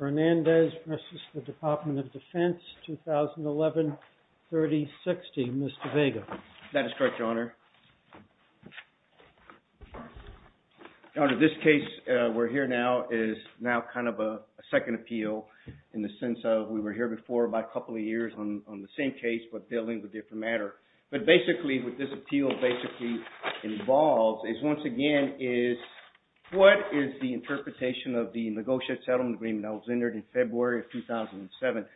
2011-3060, Mr. Vega. That is correct, Your Honor. Your Honor, this case we're here now is now kind of a second appeal in the sense of we were here before by a couple of years on the same case but dealing with a different matter. But basically what this appeal basically involves is once again is what is the interpretation of the negotiated settlement agreement that was entered in February of 2007.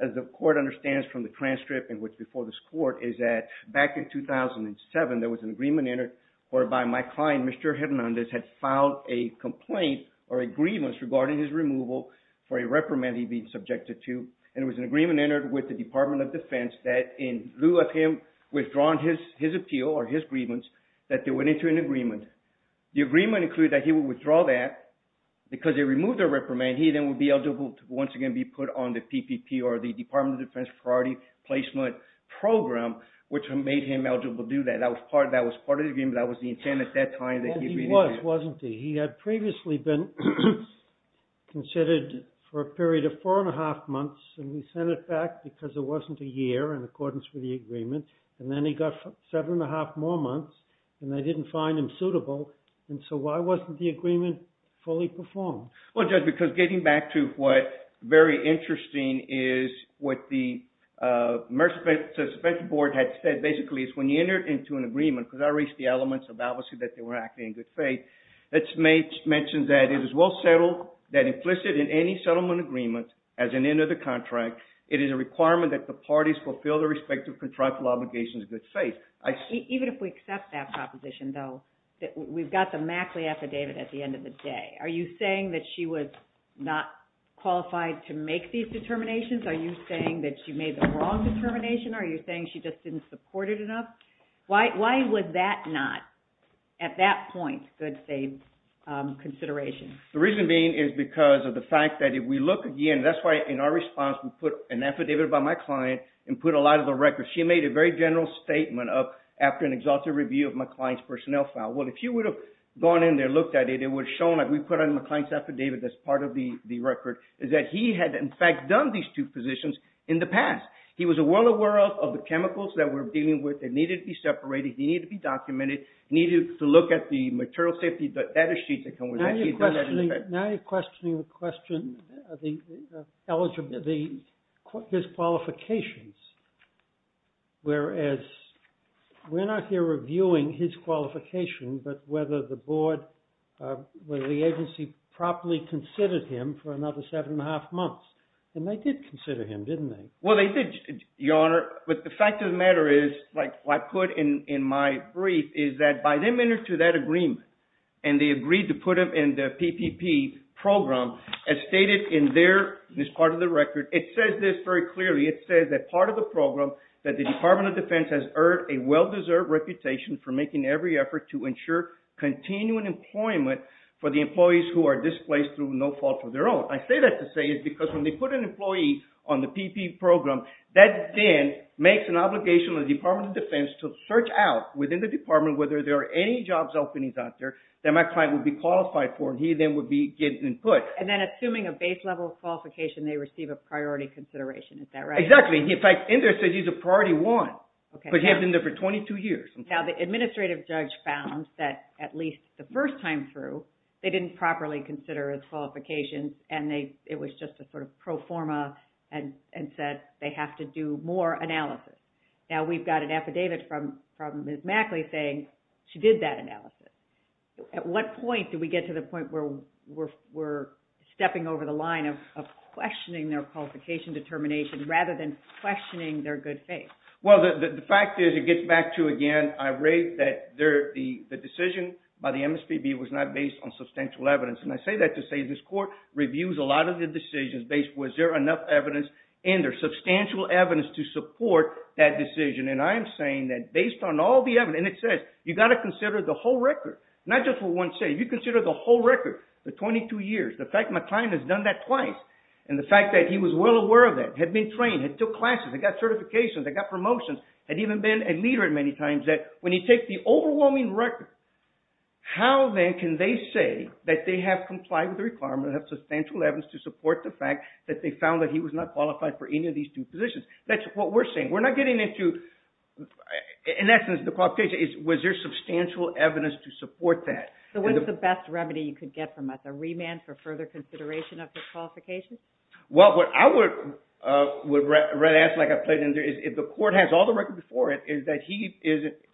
As the court understands from the transcript and what's before this court is that back in 2007 there was an agreement entered whereby my client, Mr. Hernandez, had filed a complaint or agreements regarding his removal for a reprimand he'd been subjected to. And there was an agreement entered with the Department of Defense that in lieu of him withdrawing his appeal or his agreements that they went into an agreement. The agreement included that he would withdraw that because they removed the reprimand he then would be eligible to once again be put on the PPP or the Department of Defense Priority Placement Program which made him eligible to do that. That was part of the agreement. That was the intent at that time. He was, wasn't he? He had previously been considered for a period of four and a half months and we sent it back because there wasn't a year in accordance with the agreement. And then he got seven and a half more months and they didn't find him suitable. And so why wasn't the agreement fully performed? Well, Judge, because getting back to what's very interesting is what the Merit Suspension Board had said basically is when you enter into an agreement, because I reached the elements of obviously that they were acting in good faith, it mentions that it is well settled that implicit in any settlement agreement as an end of the contract, it is a requirement that the parties fulfill their respective contractual obligations in good faith. Even if we accept that proposition though, we've got the Mackley affidavit at the end of the day. Are you saying that she was not qualified to make these determinations? Are you saying that she made the wrong determination? Are you saying she just didn't support it enough? Why was that not at that point good faith consideration? The reason being is because of the fact that if we look again, that's why in our response we put an affidavit by my client and put a lot of the records. She made a very general statement of after an exhaustive review of my client's personnel file. Well, if you would have gone in there and looked at it, it would have shown that we put on the client's affidavit that's part of the record is that he had in fact done these two positions in the past. He was well aware of the chemicals that we're dealing with that needed to be separated, he needed to be documented, he needed to look at the material safety data sheets that come with that. Now you're questioning the question of his qualifications, whereas we're not here reviewing his qualification but whether the agency properly considered him for another seven and a half months. And they did consider him, didn't they? Well, they did, Your Honor, but the fact of the matter is, like I put in my brief, is that by the minute to that agreement, and they agreed to put him in the PPP program, as stated in this part of the record, it says this very clearly. It says that part of the program that the Department of Defense has earned a well-deserved reputation for making every effort to ensure continuing employment for the employees who are displaced through no fault of their own. Now, what I say that to say is because when they put an employee on the PPP program, that then makes an obligation on the Department of Defense to search out within the department whether there are any jobs openings out there that my client would be qualified for and he then would be given input. And then assuming a base level qualification, they receive a priority consideration. Is that right? Exactly. In fact, in there it says he's a priority one because he has been there for 22 years. Now, the administrative judge found that at least the first time through, they didn't properly consider his qualifications and it was just a sort of pro forma and said they have to do more analysis. Now, we've got an affidavit from Ms. Mackley saying she did that analysis. At what point do we get to the point where we're stepping over the line of questioning their qualification determination rather than questioning their good faith? Well, the fact is it gets back to, again, I rate that the decision by the MSPB was not based on substantial evidence. And I say that to say this court reviews a lot of the decisions based on was there enough evidence and there's substantial evidence to support that decision. And I am saying that based on all the evidence, and it says you've got to consider the whole record, not just what one says. If you consider the whole record, the 22 years, the fact my client has done that twice and the fact that he was well aware of that, had been trained, had took classes, had got certifications, had got promotions, had even been a leader at many times, that when you take the overwhelming record, how then can they say that they have complied with the requirement of substantial evidence to support the fact that they found that he was not qualified for any of these two positions? That's what we're saying. We're not getting into, in essence, the qualification, was there substantial evidence to support that? So what's the best remedy you could get from us? A remand for further consideration of his qualifications? Well, what I would ask, like I played in there, is if the court has all the record before it, is that he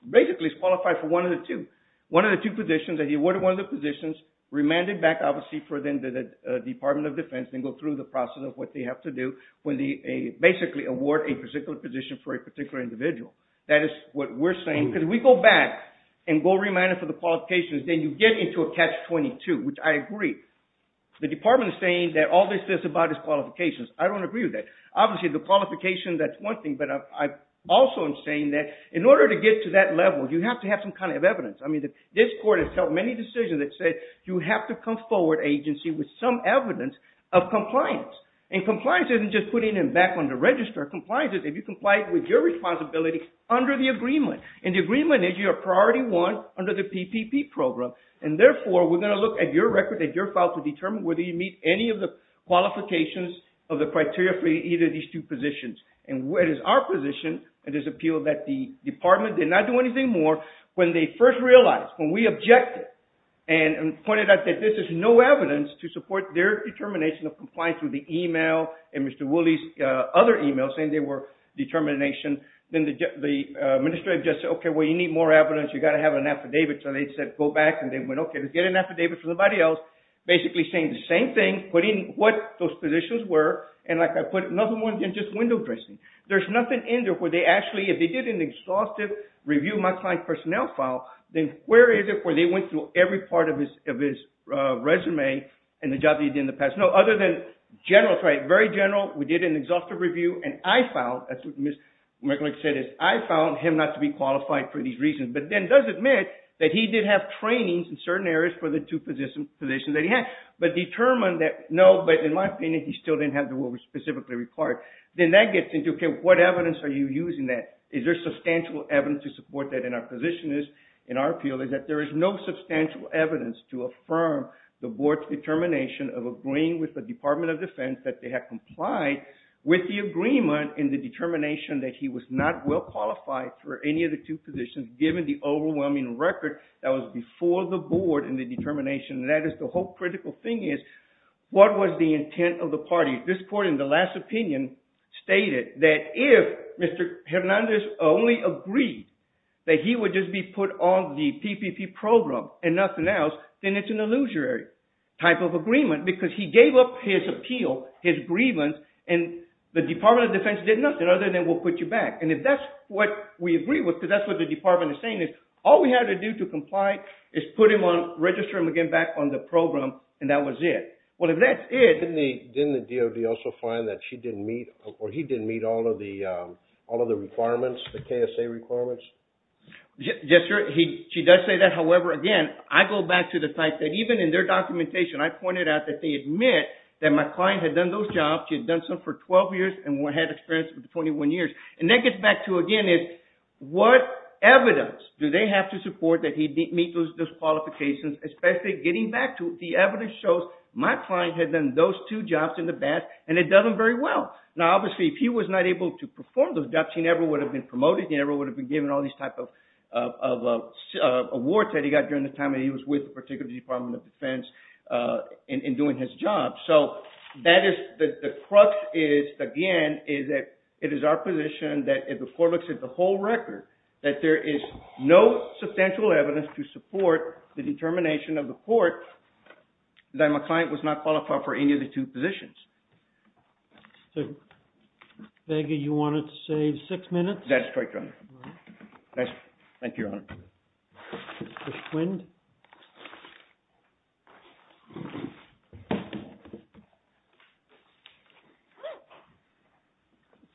basically is qualified for one of the two. One of the two positions, that he awarded one of the positions, remanded back obviously for them to the Department of Defense and go through the process of what they have to do when they basically award a particular position for a particular individual. That is what we're saying, because if we go back and go remanded for the qualifications, then you get into a catch-22, which I agree. The department is saying that all this is about is qualifications. I don't agree with that. Obviously the qualification, that's one thing, but I also am saying that in order to get to that level, you have to have some kind of evidence. I mean, this court has held many decisions that say you have to come forward, agency, with some evidence of compliance. And compliance isn't just putting it back on the register. Compliance is if you comply with your responsibility under the agreement. And the agreement is your priority one under the PPP program. And therefore, we're going to look at your record, at your file, to determine whether you meet any of the qualifications of the criteria for either of these two positions. And it is our position, it is appealed, that the department did not do anything more when they first realized, when we objected and pointed out that this is no evidence to support their determination of compliance with the email and Mr. Woolley's other emails saying they were determination. Then the administrative just said, okay, well, you need more evidence. You've got to have an affidavit. So they said, go back, and they went, okay, let's get an affidavit from somebody else, basically saying the same thing, putting what those positions were. And like I put it, nothing more than just window dressing. There's nothing in there where they actually, if they did an exhaustive review of my client's personnel file, then where is it where they went through every part of his resume and the job that he did in the past? No, other than general, sorry, very general, we did an exhaustive review, and I found, that's what Ms. McGlick said is, I found him not to be qualified for these reasons. But then does admit that he did have trainings in certain areas for the two positions that he had, but determined that, no, but in my opinion, he still didn't have the one we specifically required. Then that gets into, okay, what evidence are you using that? Is there substantial evidence to support that in our position is, in our appeal, is that there is no substantial evidence to affirm the board's determination of agreeing with the Department of Defense that they have complied with the agreement and the determination that he was not well qualified for any of the two positions given the two different positions. And that is the whole critical thing is, what was the intent of the party? This court, in the last opinion, stated that if Mr. Hernandez only agreed that he would just be put on the PPP program and nothing else, then it's an illusory type of agreement because he gave up his appeal, his grievance, and the Department of Defense did nothing other than we'll put you back. And if that's what we agree with, because that's what the department is saying is, all we have to do to comply is put him on, register him again back on the program, and that was it. Well, if that's it… Didn't the DOD also find that she didn't meet, or he didn't meet all of the requirements, the KSA requirements? Yes, sir. She does say that. However, again, I go back to the fact that even in their documentation, I pointed out that they admit that my client had done those jobs. She had done some for 12 years and had experience for 21 years. And that gets back to, again, what evidence do they have to support that he didn't meet those qualifications, especially getting back to the evidence shows my client had done those two jobs in the past and had done them very well. Now, obviously, if he was not able to perform those jobs, he never would have been promoted, he never would have been given all these types of awards that he got during the time that he was with the particular Department of Defense in doing his job. So that is, the crux is, again, is that it is our position that if the court looks at the whole record, that there is no substantial evidence to support the determination of the court that my client was not qualified for any of the two positions. So, Bega, you wanted to say six minutes? That's correct, Your Honor. Thank you, Your Honor. Mr. Quind?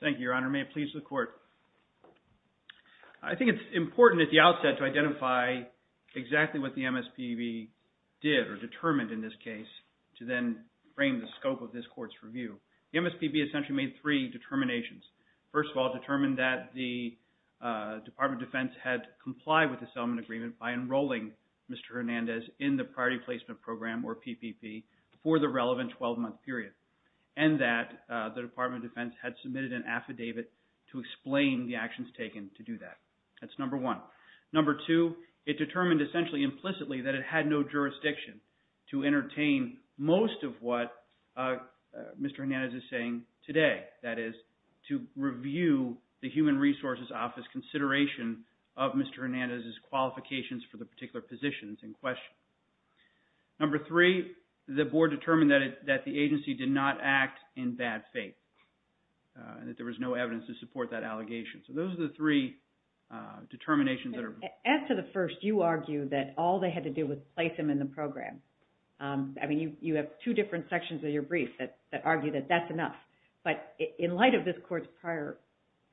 Thank you, Your Honor. May it please the court. I think it's important at the outset to identify exactly what the MSPB did or determined in this case to then frame the scope of this court's review. The MSPB essentially made three determinations. First of all, it determined that the Department of Defense had complied with the settlement agreement by enrolling Mr. Hernandez in the Priority Placement Program, or PPP, for the relevant 12-month period, and that the Department of Defense had submitted an affidavit to explain the actions taken to do that. That's number one. Number two, it determined essentially implicitly that it had no jurisdiction to entertain most of what Mr. Hernandez is saying today, that is, to review the Human Resources Office consideration of Mr. Hernandez's qualifications for the particular positions in question. Number three, the board determined that the agency did not act in bad faith and that there was no evidence to support that allegation. So those are the three determinations that are… As to the first, you argue that all they had to do was place him in the program. I mean, you have two different sections of your brief that argue that that's enough. But in light of this court's prior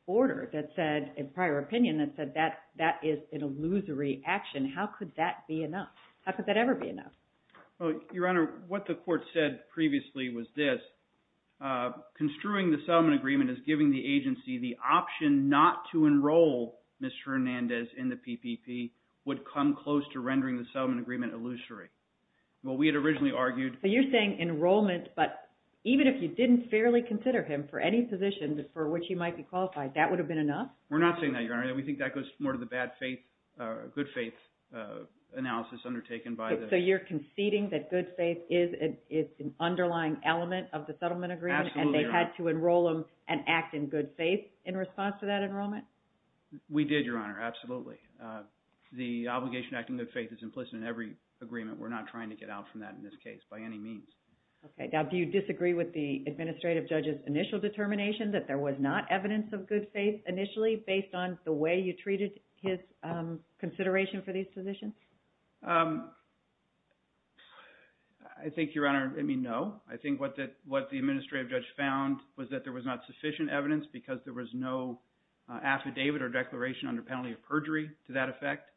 order that said – prior opinion that said that that is an illusory action, how could that be enough? How could that ever be enough? Well, Your Honor, what the court said previously was this. Construing the settlement agreement as giving the agency the option not to enroll Mr. Hernandez in the PPP would come close to rendering the settlement agreement illusory. Well, we had originally argued… So you're saying enrollment, but even if you didn't fairly consider him for any position for which he might be qualified, that would have been enough? We're not saying that, Your Honor. We think that goes more to the bad faith – good faith analysis undertaken by the… So you're conceding that good faith is an underlying element of the settlement agreement and they had to enroll him and act in good faith in response to that enrollment? We did, Your Honor. Absolutely. The obligation to act in good faith is implicit in every agreement. We're not trying to get out from that in this case by any means. Okay. Now, do you disagree with the administrative judge's initial determination that there was not evidence of good faith initially based on the way you treated his consideration for these positions? I think, Your Honor, I mean, no. I think what the administrative judge found was that there was not sufficient evidence because there was no affidavit or declaration under penalty of perjury to that effect.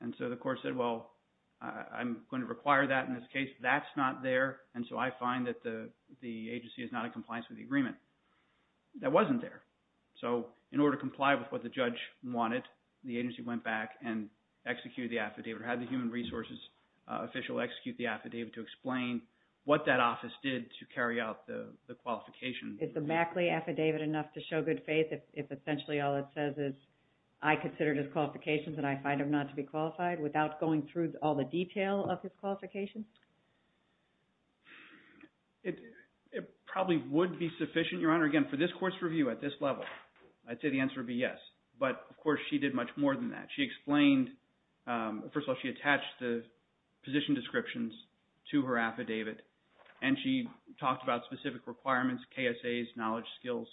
And so the court said, well, I'm going to require that in this case. That's not there, and so I find that the agency is not in compliance with the agreement. That wasn't there. So in order to comply with what the judge wanted, the agency went back and executed the affidavit or had the human resources official execute the affidavit to explain what that office did to carry out the qualification. Is the Mackley affidavit enough to show good faith if essentially all it says is I considered his qualifications and I find him not to be qualified without going through all the detail of his qualifications? It probably would be sufficient, Your Honor. Again, for this court's review at this level, I'd say the answer would be yes. But, of course, she did much more than that. She explained – first of all, she attached the position descriptions to her affidavit, and she talked about specific requirements, KSAs, knowledge, skills,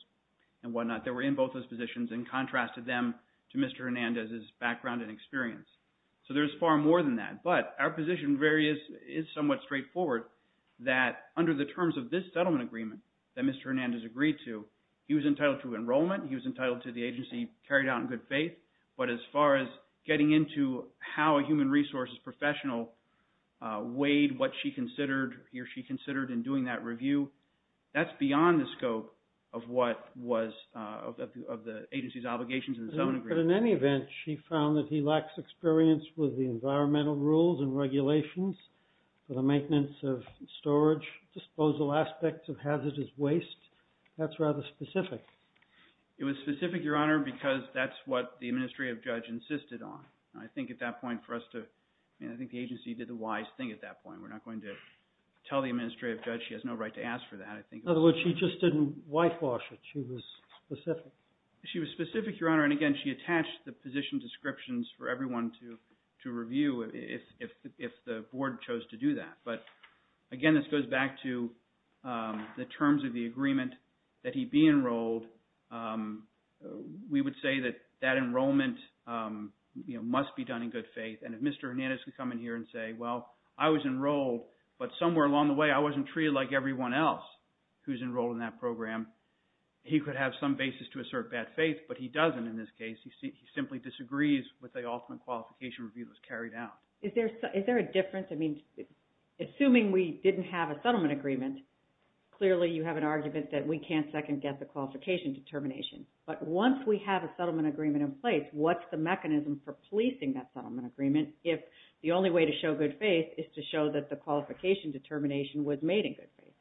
and whatnot that were in both those positions and contrasted them to Mr. Hernandez's background and experience. So there's far more than that. But our position is somewhat straightforward that under the terms of this settlement agreement that Mr. Hernandez agreed to, he was entitled to enrollment. He was entitled to the agency carried out in good faith. But as far as getting into how a human resources professional weighed what she considered or she considered in doing that review, that's beyond the scope of what was – of the agency's obligation to the settlement agreement. But in any event, she found that he lacks experience with the environmental rules and regulations for the maintenance of storage, disposal aspects of hazardous waste. That's rather specific. It was specific, Your Honor, because that's what the administrative judge insisted on. I think at that point for us to – I think the agency did the wise thing at that point. We're not going to tell the administrative judge she has no right to ask for that. In other words, she just didn't whitewash it. She was specific. She was specific, Your Honor, and again, she attached the position descriptions for everyone to review if the board chose to do that. But again, this goes back to the terms of the agreement that he be enrolled. We would say that that enrollment must be done in good faith. And if Mr. Hernandez could come in here and say, well, I was enrolled, but somewhere along the way I wasn't treated like everyone else who's enrolled in that program, he could have some basis to assert bad faith. But he doesn't in this case. He simply disagrees with the ultimate qualification review that was carried out. Is there a difference? I mean, assuming we didn't have a settlement agreement, clearly you have an argument that we can't second guess the qualification determination. But once we have a settlement agreement in place, what's the mechanism for policing that settlement agreement if the only way to show good faith is to show that the qualification determination was made in good faith?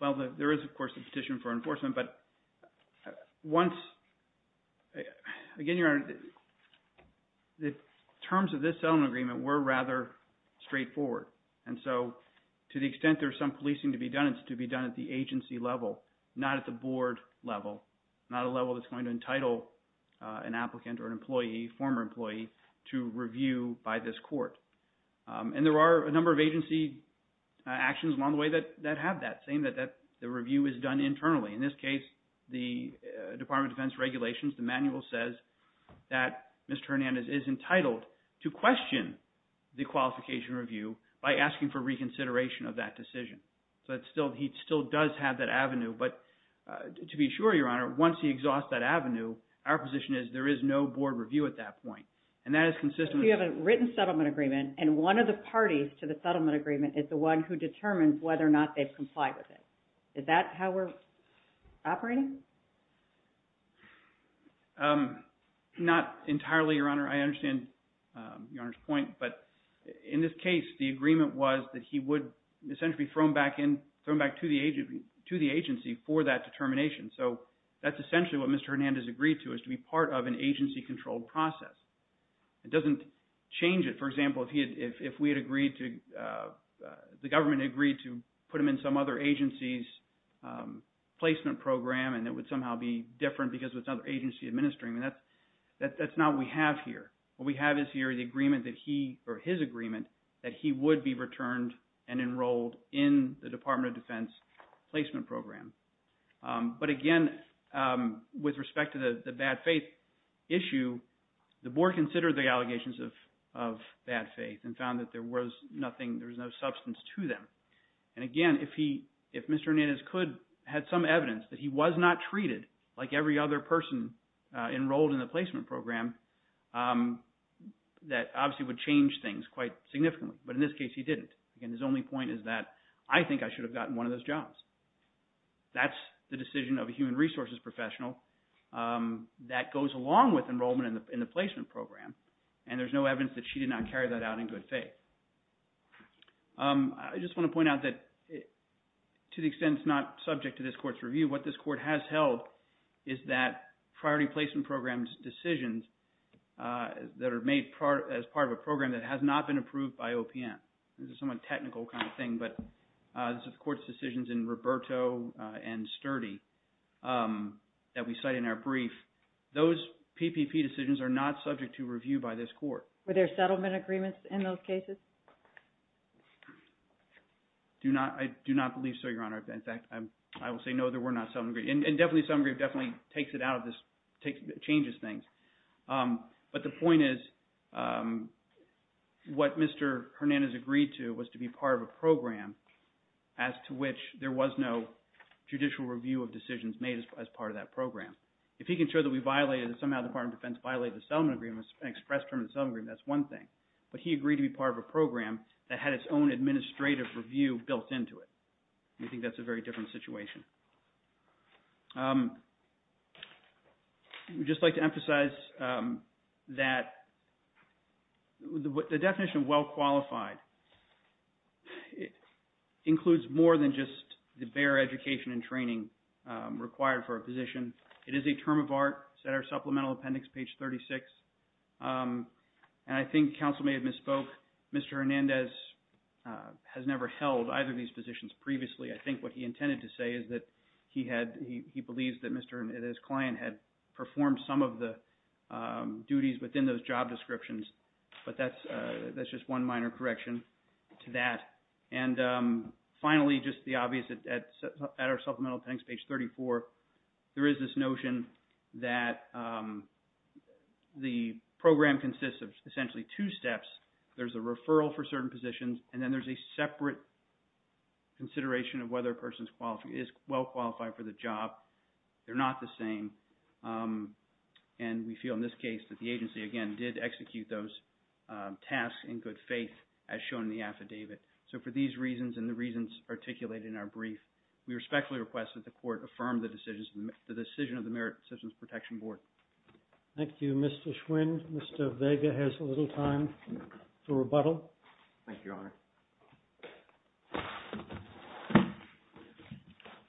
Well, there is, of course, a petition for enforcement. But once – again, Your Honor, the terms of this settlement agreement were rather straightforward. And so to the extent there's some policing to be done, it's to be done at the agency level, not at the board level, not a level that's going to entitle an applicant or an employee, a former employee to review by this court. And there are a number of agency actions along the way that have that, saying that the review is done internally. In this case, the Department of Defense regulations, the manual says that Mr. Hernandez is entitled to question the qualification review by asking for reconsideration of that decision. So he still does have that avenue. But to be sure, Your Honor, once he exhausts that avenue, our position is there is no board review at that point. So you have a written settlement agreement, and one of the parties to the settlement agreement is the one who determines whether or not they've complied with it. Is that how we're operating? Not entirely, Your Honor. I understand Your Honor's point. But in this case, the agreement was that he would essentially be thrown back in – thrown back to the agency for that determination. So that's essentially what Mr. Hernandez agreed to, is to be part of an agency-controlled process. It doesn't change it. For example, if we had agreed to – the government agreed to put him in some other agency's placement program and it would somehow be different because it's another agency administering. That's not what we have here. What we have is here the agreement that he – or his agreement that he would be returned and enrolled in the Department of Defense placement program. But again, with respect to the bad faith issue, the board considered the allegations of bad faith and found that there was nothing – there was no substance to them. And again, if he – if Mr. Hernandez could – had some evidence that he was not treated like every other person enrolled in the placement program, that obviously would change things quite significantly. But in this case, he didn't. Again, his only point is that I think I should have gotten one of those jobs. That's the decision of a human resources professional that goes along with enrollment in the placement program, and there's no evidence that she did not carry that out in good faith. I just want to point out that to the extent it's not subject to this court's review, what this court has held is that priority placement programs decisions that are made as part of a program that has not been approved by OPM. This is a somewhat technical kind of thing, but this is the court's decisions in Roberto and Sturdy that we cite in our brief. Those PPP decisions are not subject to review by this court. Were there settlement agreements in those cases? I do not believe so, Your Honor. In fact, I will say no, there were not settlement agreements. And definitely, settlement agreement definitely takes it out of this – changes things. But the point is what Mr. Hernandez agreed to was to be part of a program as to which there was no judicial review of decisions made as part of that program. If he can show that we violated – somehow the Department of Defense violated the settlement agreement and expressed term of the settlement agreement, that's one thing. But he agreed to be part of a program that had its own administrative review built into it. We think that's a very different situation. We'd just like to emphasize that the definition of well-qualified includes more than just the bare education and training required for a position. It is a term of art. It's in our supplemental appendix, page 36. And I think counsel may have misspoke. Mr. Hernandez has never held either of these positions previously. I think what he intended to say is that he had – he believes that Mr. – that his client had performed some of the duties within those job descriptions. But that's just one minor correction to that. And finally, just the obvious, at our supplemental appendix, page 34, there is this notion that the program consists of essentially two steps. There's a referral for certain positions, and then there's a separate consideration of whether a person is well-qualified for the job. They're not the same. And we feel in this case that the agency, again, did execute those tasks in good faith as shown in the affidavit. So for these reasons and the reasons articulated in our brief, we respectfully request that the court affirm the decision of the Merit Systems Protection Board. Thank you, Mr. Schwinn. Mr. Vega has a little time for rebuttal. Thank you, Your Honor.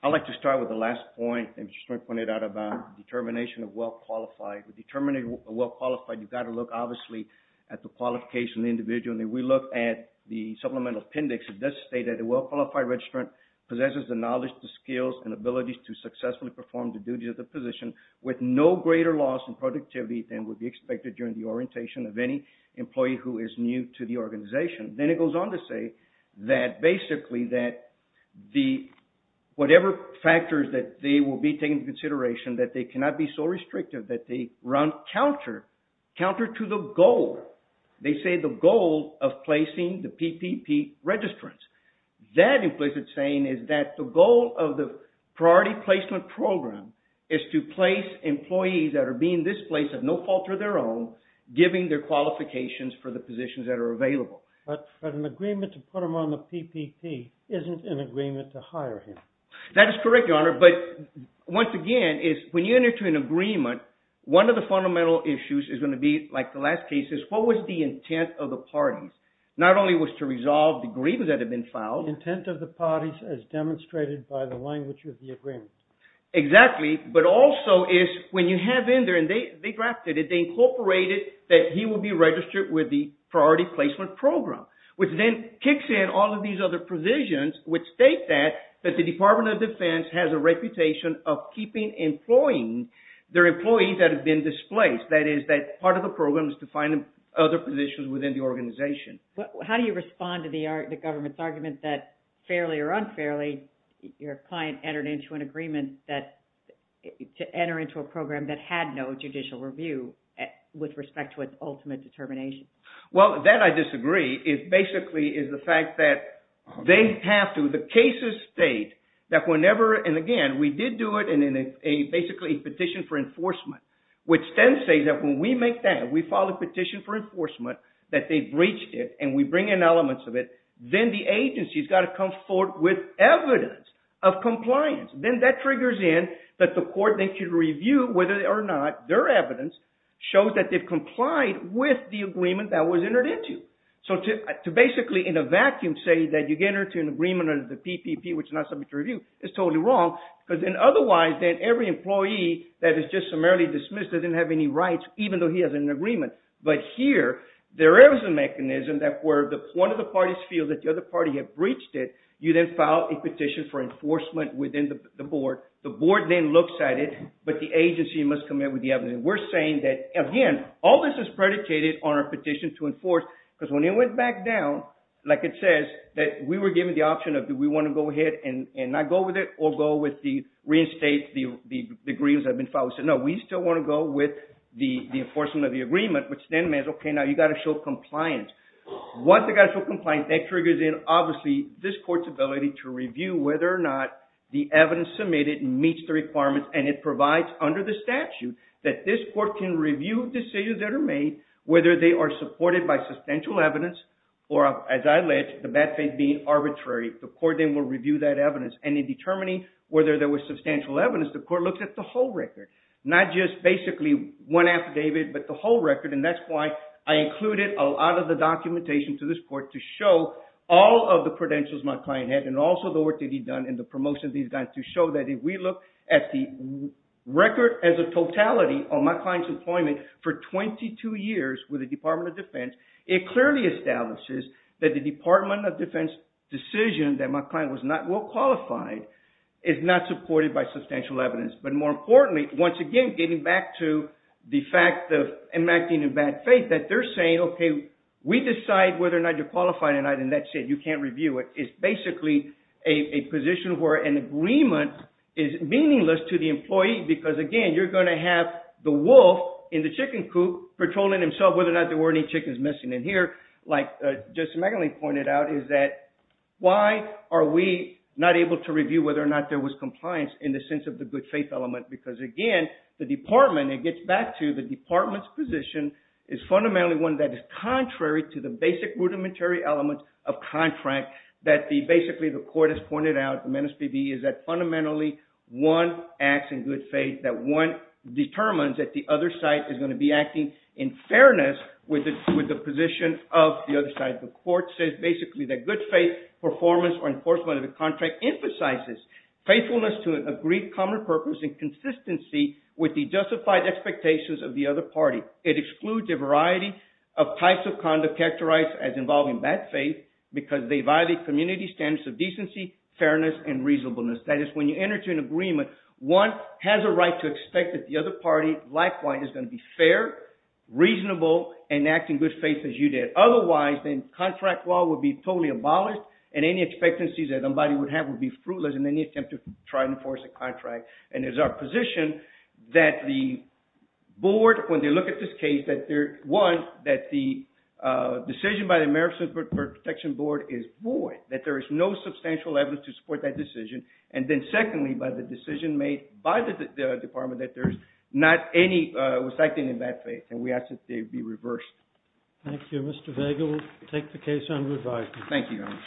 I'd like to start with the last point that Mr. Schwinn pointed out about determination of well-qualified. With determination of well-qualified, you've got to look, obviously, at the qualification of the individual. And if we look at the supplemental appendix, it does state that a well-qualified registrant possesses the knowledge, the skills, and abilities to successfully perform the duty of the position with no greater loss in productivity than would be expected during the orientation of any employee who is new to the organization. Then it goes on to say that basically that whatever factors that they will be taking into consideration, that they cannot be so restrictive that they run counter to the goal. They say the goal of placing the PPP registrants. That implicit saying is that the goal of the priority placement program is to place employees that are being displaced at no fault of their own, giving their qualifications for the positions that are available. But an agreement to put them on the PPP isn't an agreement to hire him. That is correct, Your Honor. But once again, when you enter into an agreement, one of the fundamental issues is going to be, like the last case is, what was the intent of the parties? Not only was to resolve the grievance that had been filed. The intent of the parties as demonstrated by the language of the agreement. Exactly, but also is when you have in there, and they drafted it, they incorporated that he will be registered with the priority placement program, which then kicks in all of these other provisions which state that the Department of Defense has a reputation of keeping employing their employees that have been displaced. That is that part of the program is to find other positions within the organization. How do you respond to the government's argument that, fairly or unfairly, your client entered into an agreement to enter into a program that had no judicial review with respect to its ultimate determination? Well, that I disagree. It basically is the fact that they have to. The cases state that whenever, and again, we did do it in basically a petition for enforcement, which then says that when we make that, we file a petition for enforcement, that they breached it, and we bring in elements of it. Then the agency has got to come forward with evidence of compliance. Then that triggers in that the court then can review whether or not their evidence shows that they've complied with the agreement that was entered into. So to basically, in a vacuum, say that you get into an agreement under the PPP, which is not subject to review, is totally wrong. Otherwise, then every employee that is just summarily dismissed doesn't have any rights, even though he has an agreement. But here, there is a mechanism that where one of the parties feels that the other party has breached it, you then file a petition for enforcement within the board. The board then looks at it, but the agency must come in with the evidence. We're saying that, again, all this is predicated on our petition to enforce, because when it went back down, like it says, that we were given the option of, do we want to go ahead and not go with it, or go with the reinstate the agreements that have been filed? We said, no, we still want to go with the enforcement of the agreement, which then means, okay, now you've got to show compliance. Once they've got to show compliance, that triggers in, obviously, this court's ability to review whether or not the evidence submitted meets the requirements. And it provides, under the statute, that this court can review decisions that are made, whether they are supported by substantial evidence or, as I alleged, the bad faith being arbitrary. The court then will review that evidence. And in determining whether there was substantial evidence, the court looks at the whole record, not just basically one affidavit, but the whole record. And that's why I included a lot of the documentation to this court to show all of the credentials my client had, and also the work that he'd done in the promotion of these guys, to show that if we look at the record as a totality of my client's employment for 22 years with the Department of Defense, it clearly establishes that the Department of Defense decision that my client was not well qualified is not supported by substantial evidence. But more importantly, once again, getting back to the fact of enacting a bad faith, that they're saying, okay, we decide whether or not you're qualified or not, and that's it, you can't review it. It's basically a position where an agreement is meaningless to the employee because, again, you're going to have the wolf in the chicken coop patrolling himself whether or not there were any chickens missing. And here, like Justice McAleenan pointed out, is that why are we not able to review whether or not there was compliance in the sense of the good faith element? Because, again, the department, it gets back to the department's position, is fundamentally one that is contrary to the basic rudimentary elements of contract that basically the court has pointed out, the menis vivi, is that fundamentally one acts in good faith, that one determines that the other side is going to be acting in fairness with the position of the other side. The court says basically that good faith performance or enforcement of the contract emphasizes faithfulness to an agreed common purpose in consistency with the justified expectations of the other party. It excludes a variety of types of conduct characterized as involving bad faith because they violate community standards of decency, fairness, and reasonableness. That is, when you enter into an agreement, one has a right to expect that the other party, likewise, is going to be fair, reasonable, and act in good faith as you did. Otherwise, then contract law would be totally abolished and any expectancies that somebody would have would be fruitless in any attempt to try and enforce a contract. And it's our position that the board, when they look at this case, that one, that the decision by the American Protection Board is void, that there is no substantial evidence to support that decision. And then secondly, by the decision made by the department, that there's not any restricting in bad faith, and we ask that they be reversed. Thank you. Mr. Vega, we'll take the case on review. Thank you, Your Honor.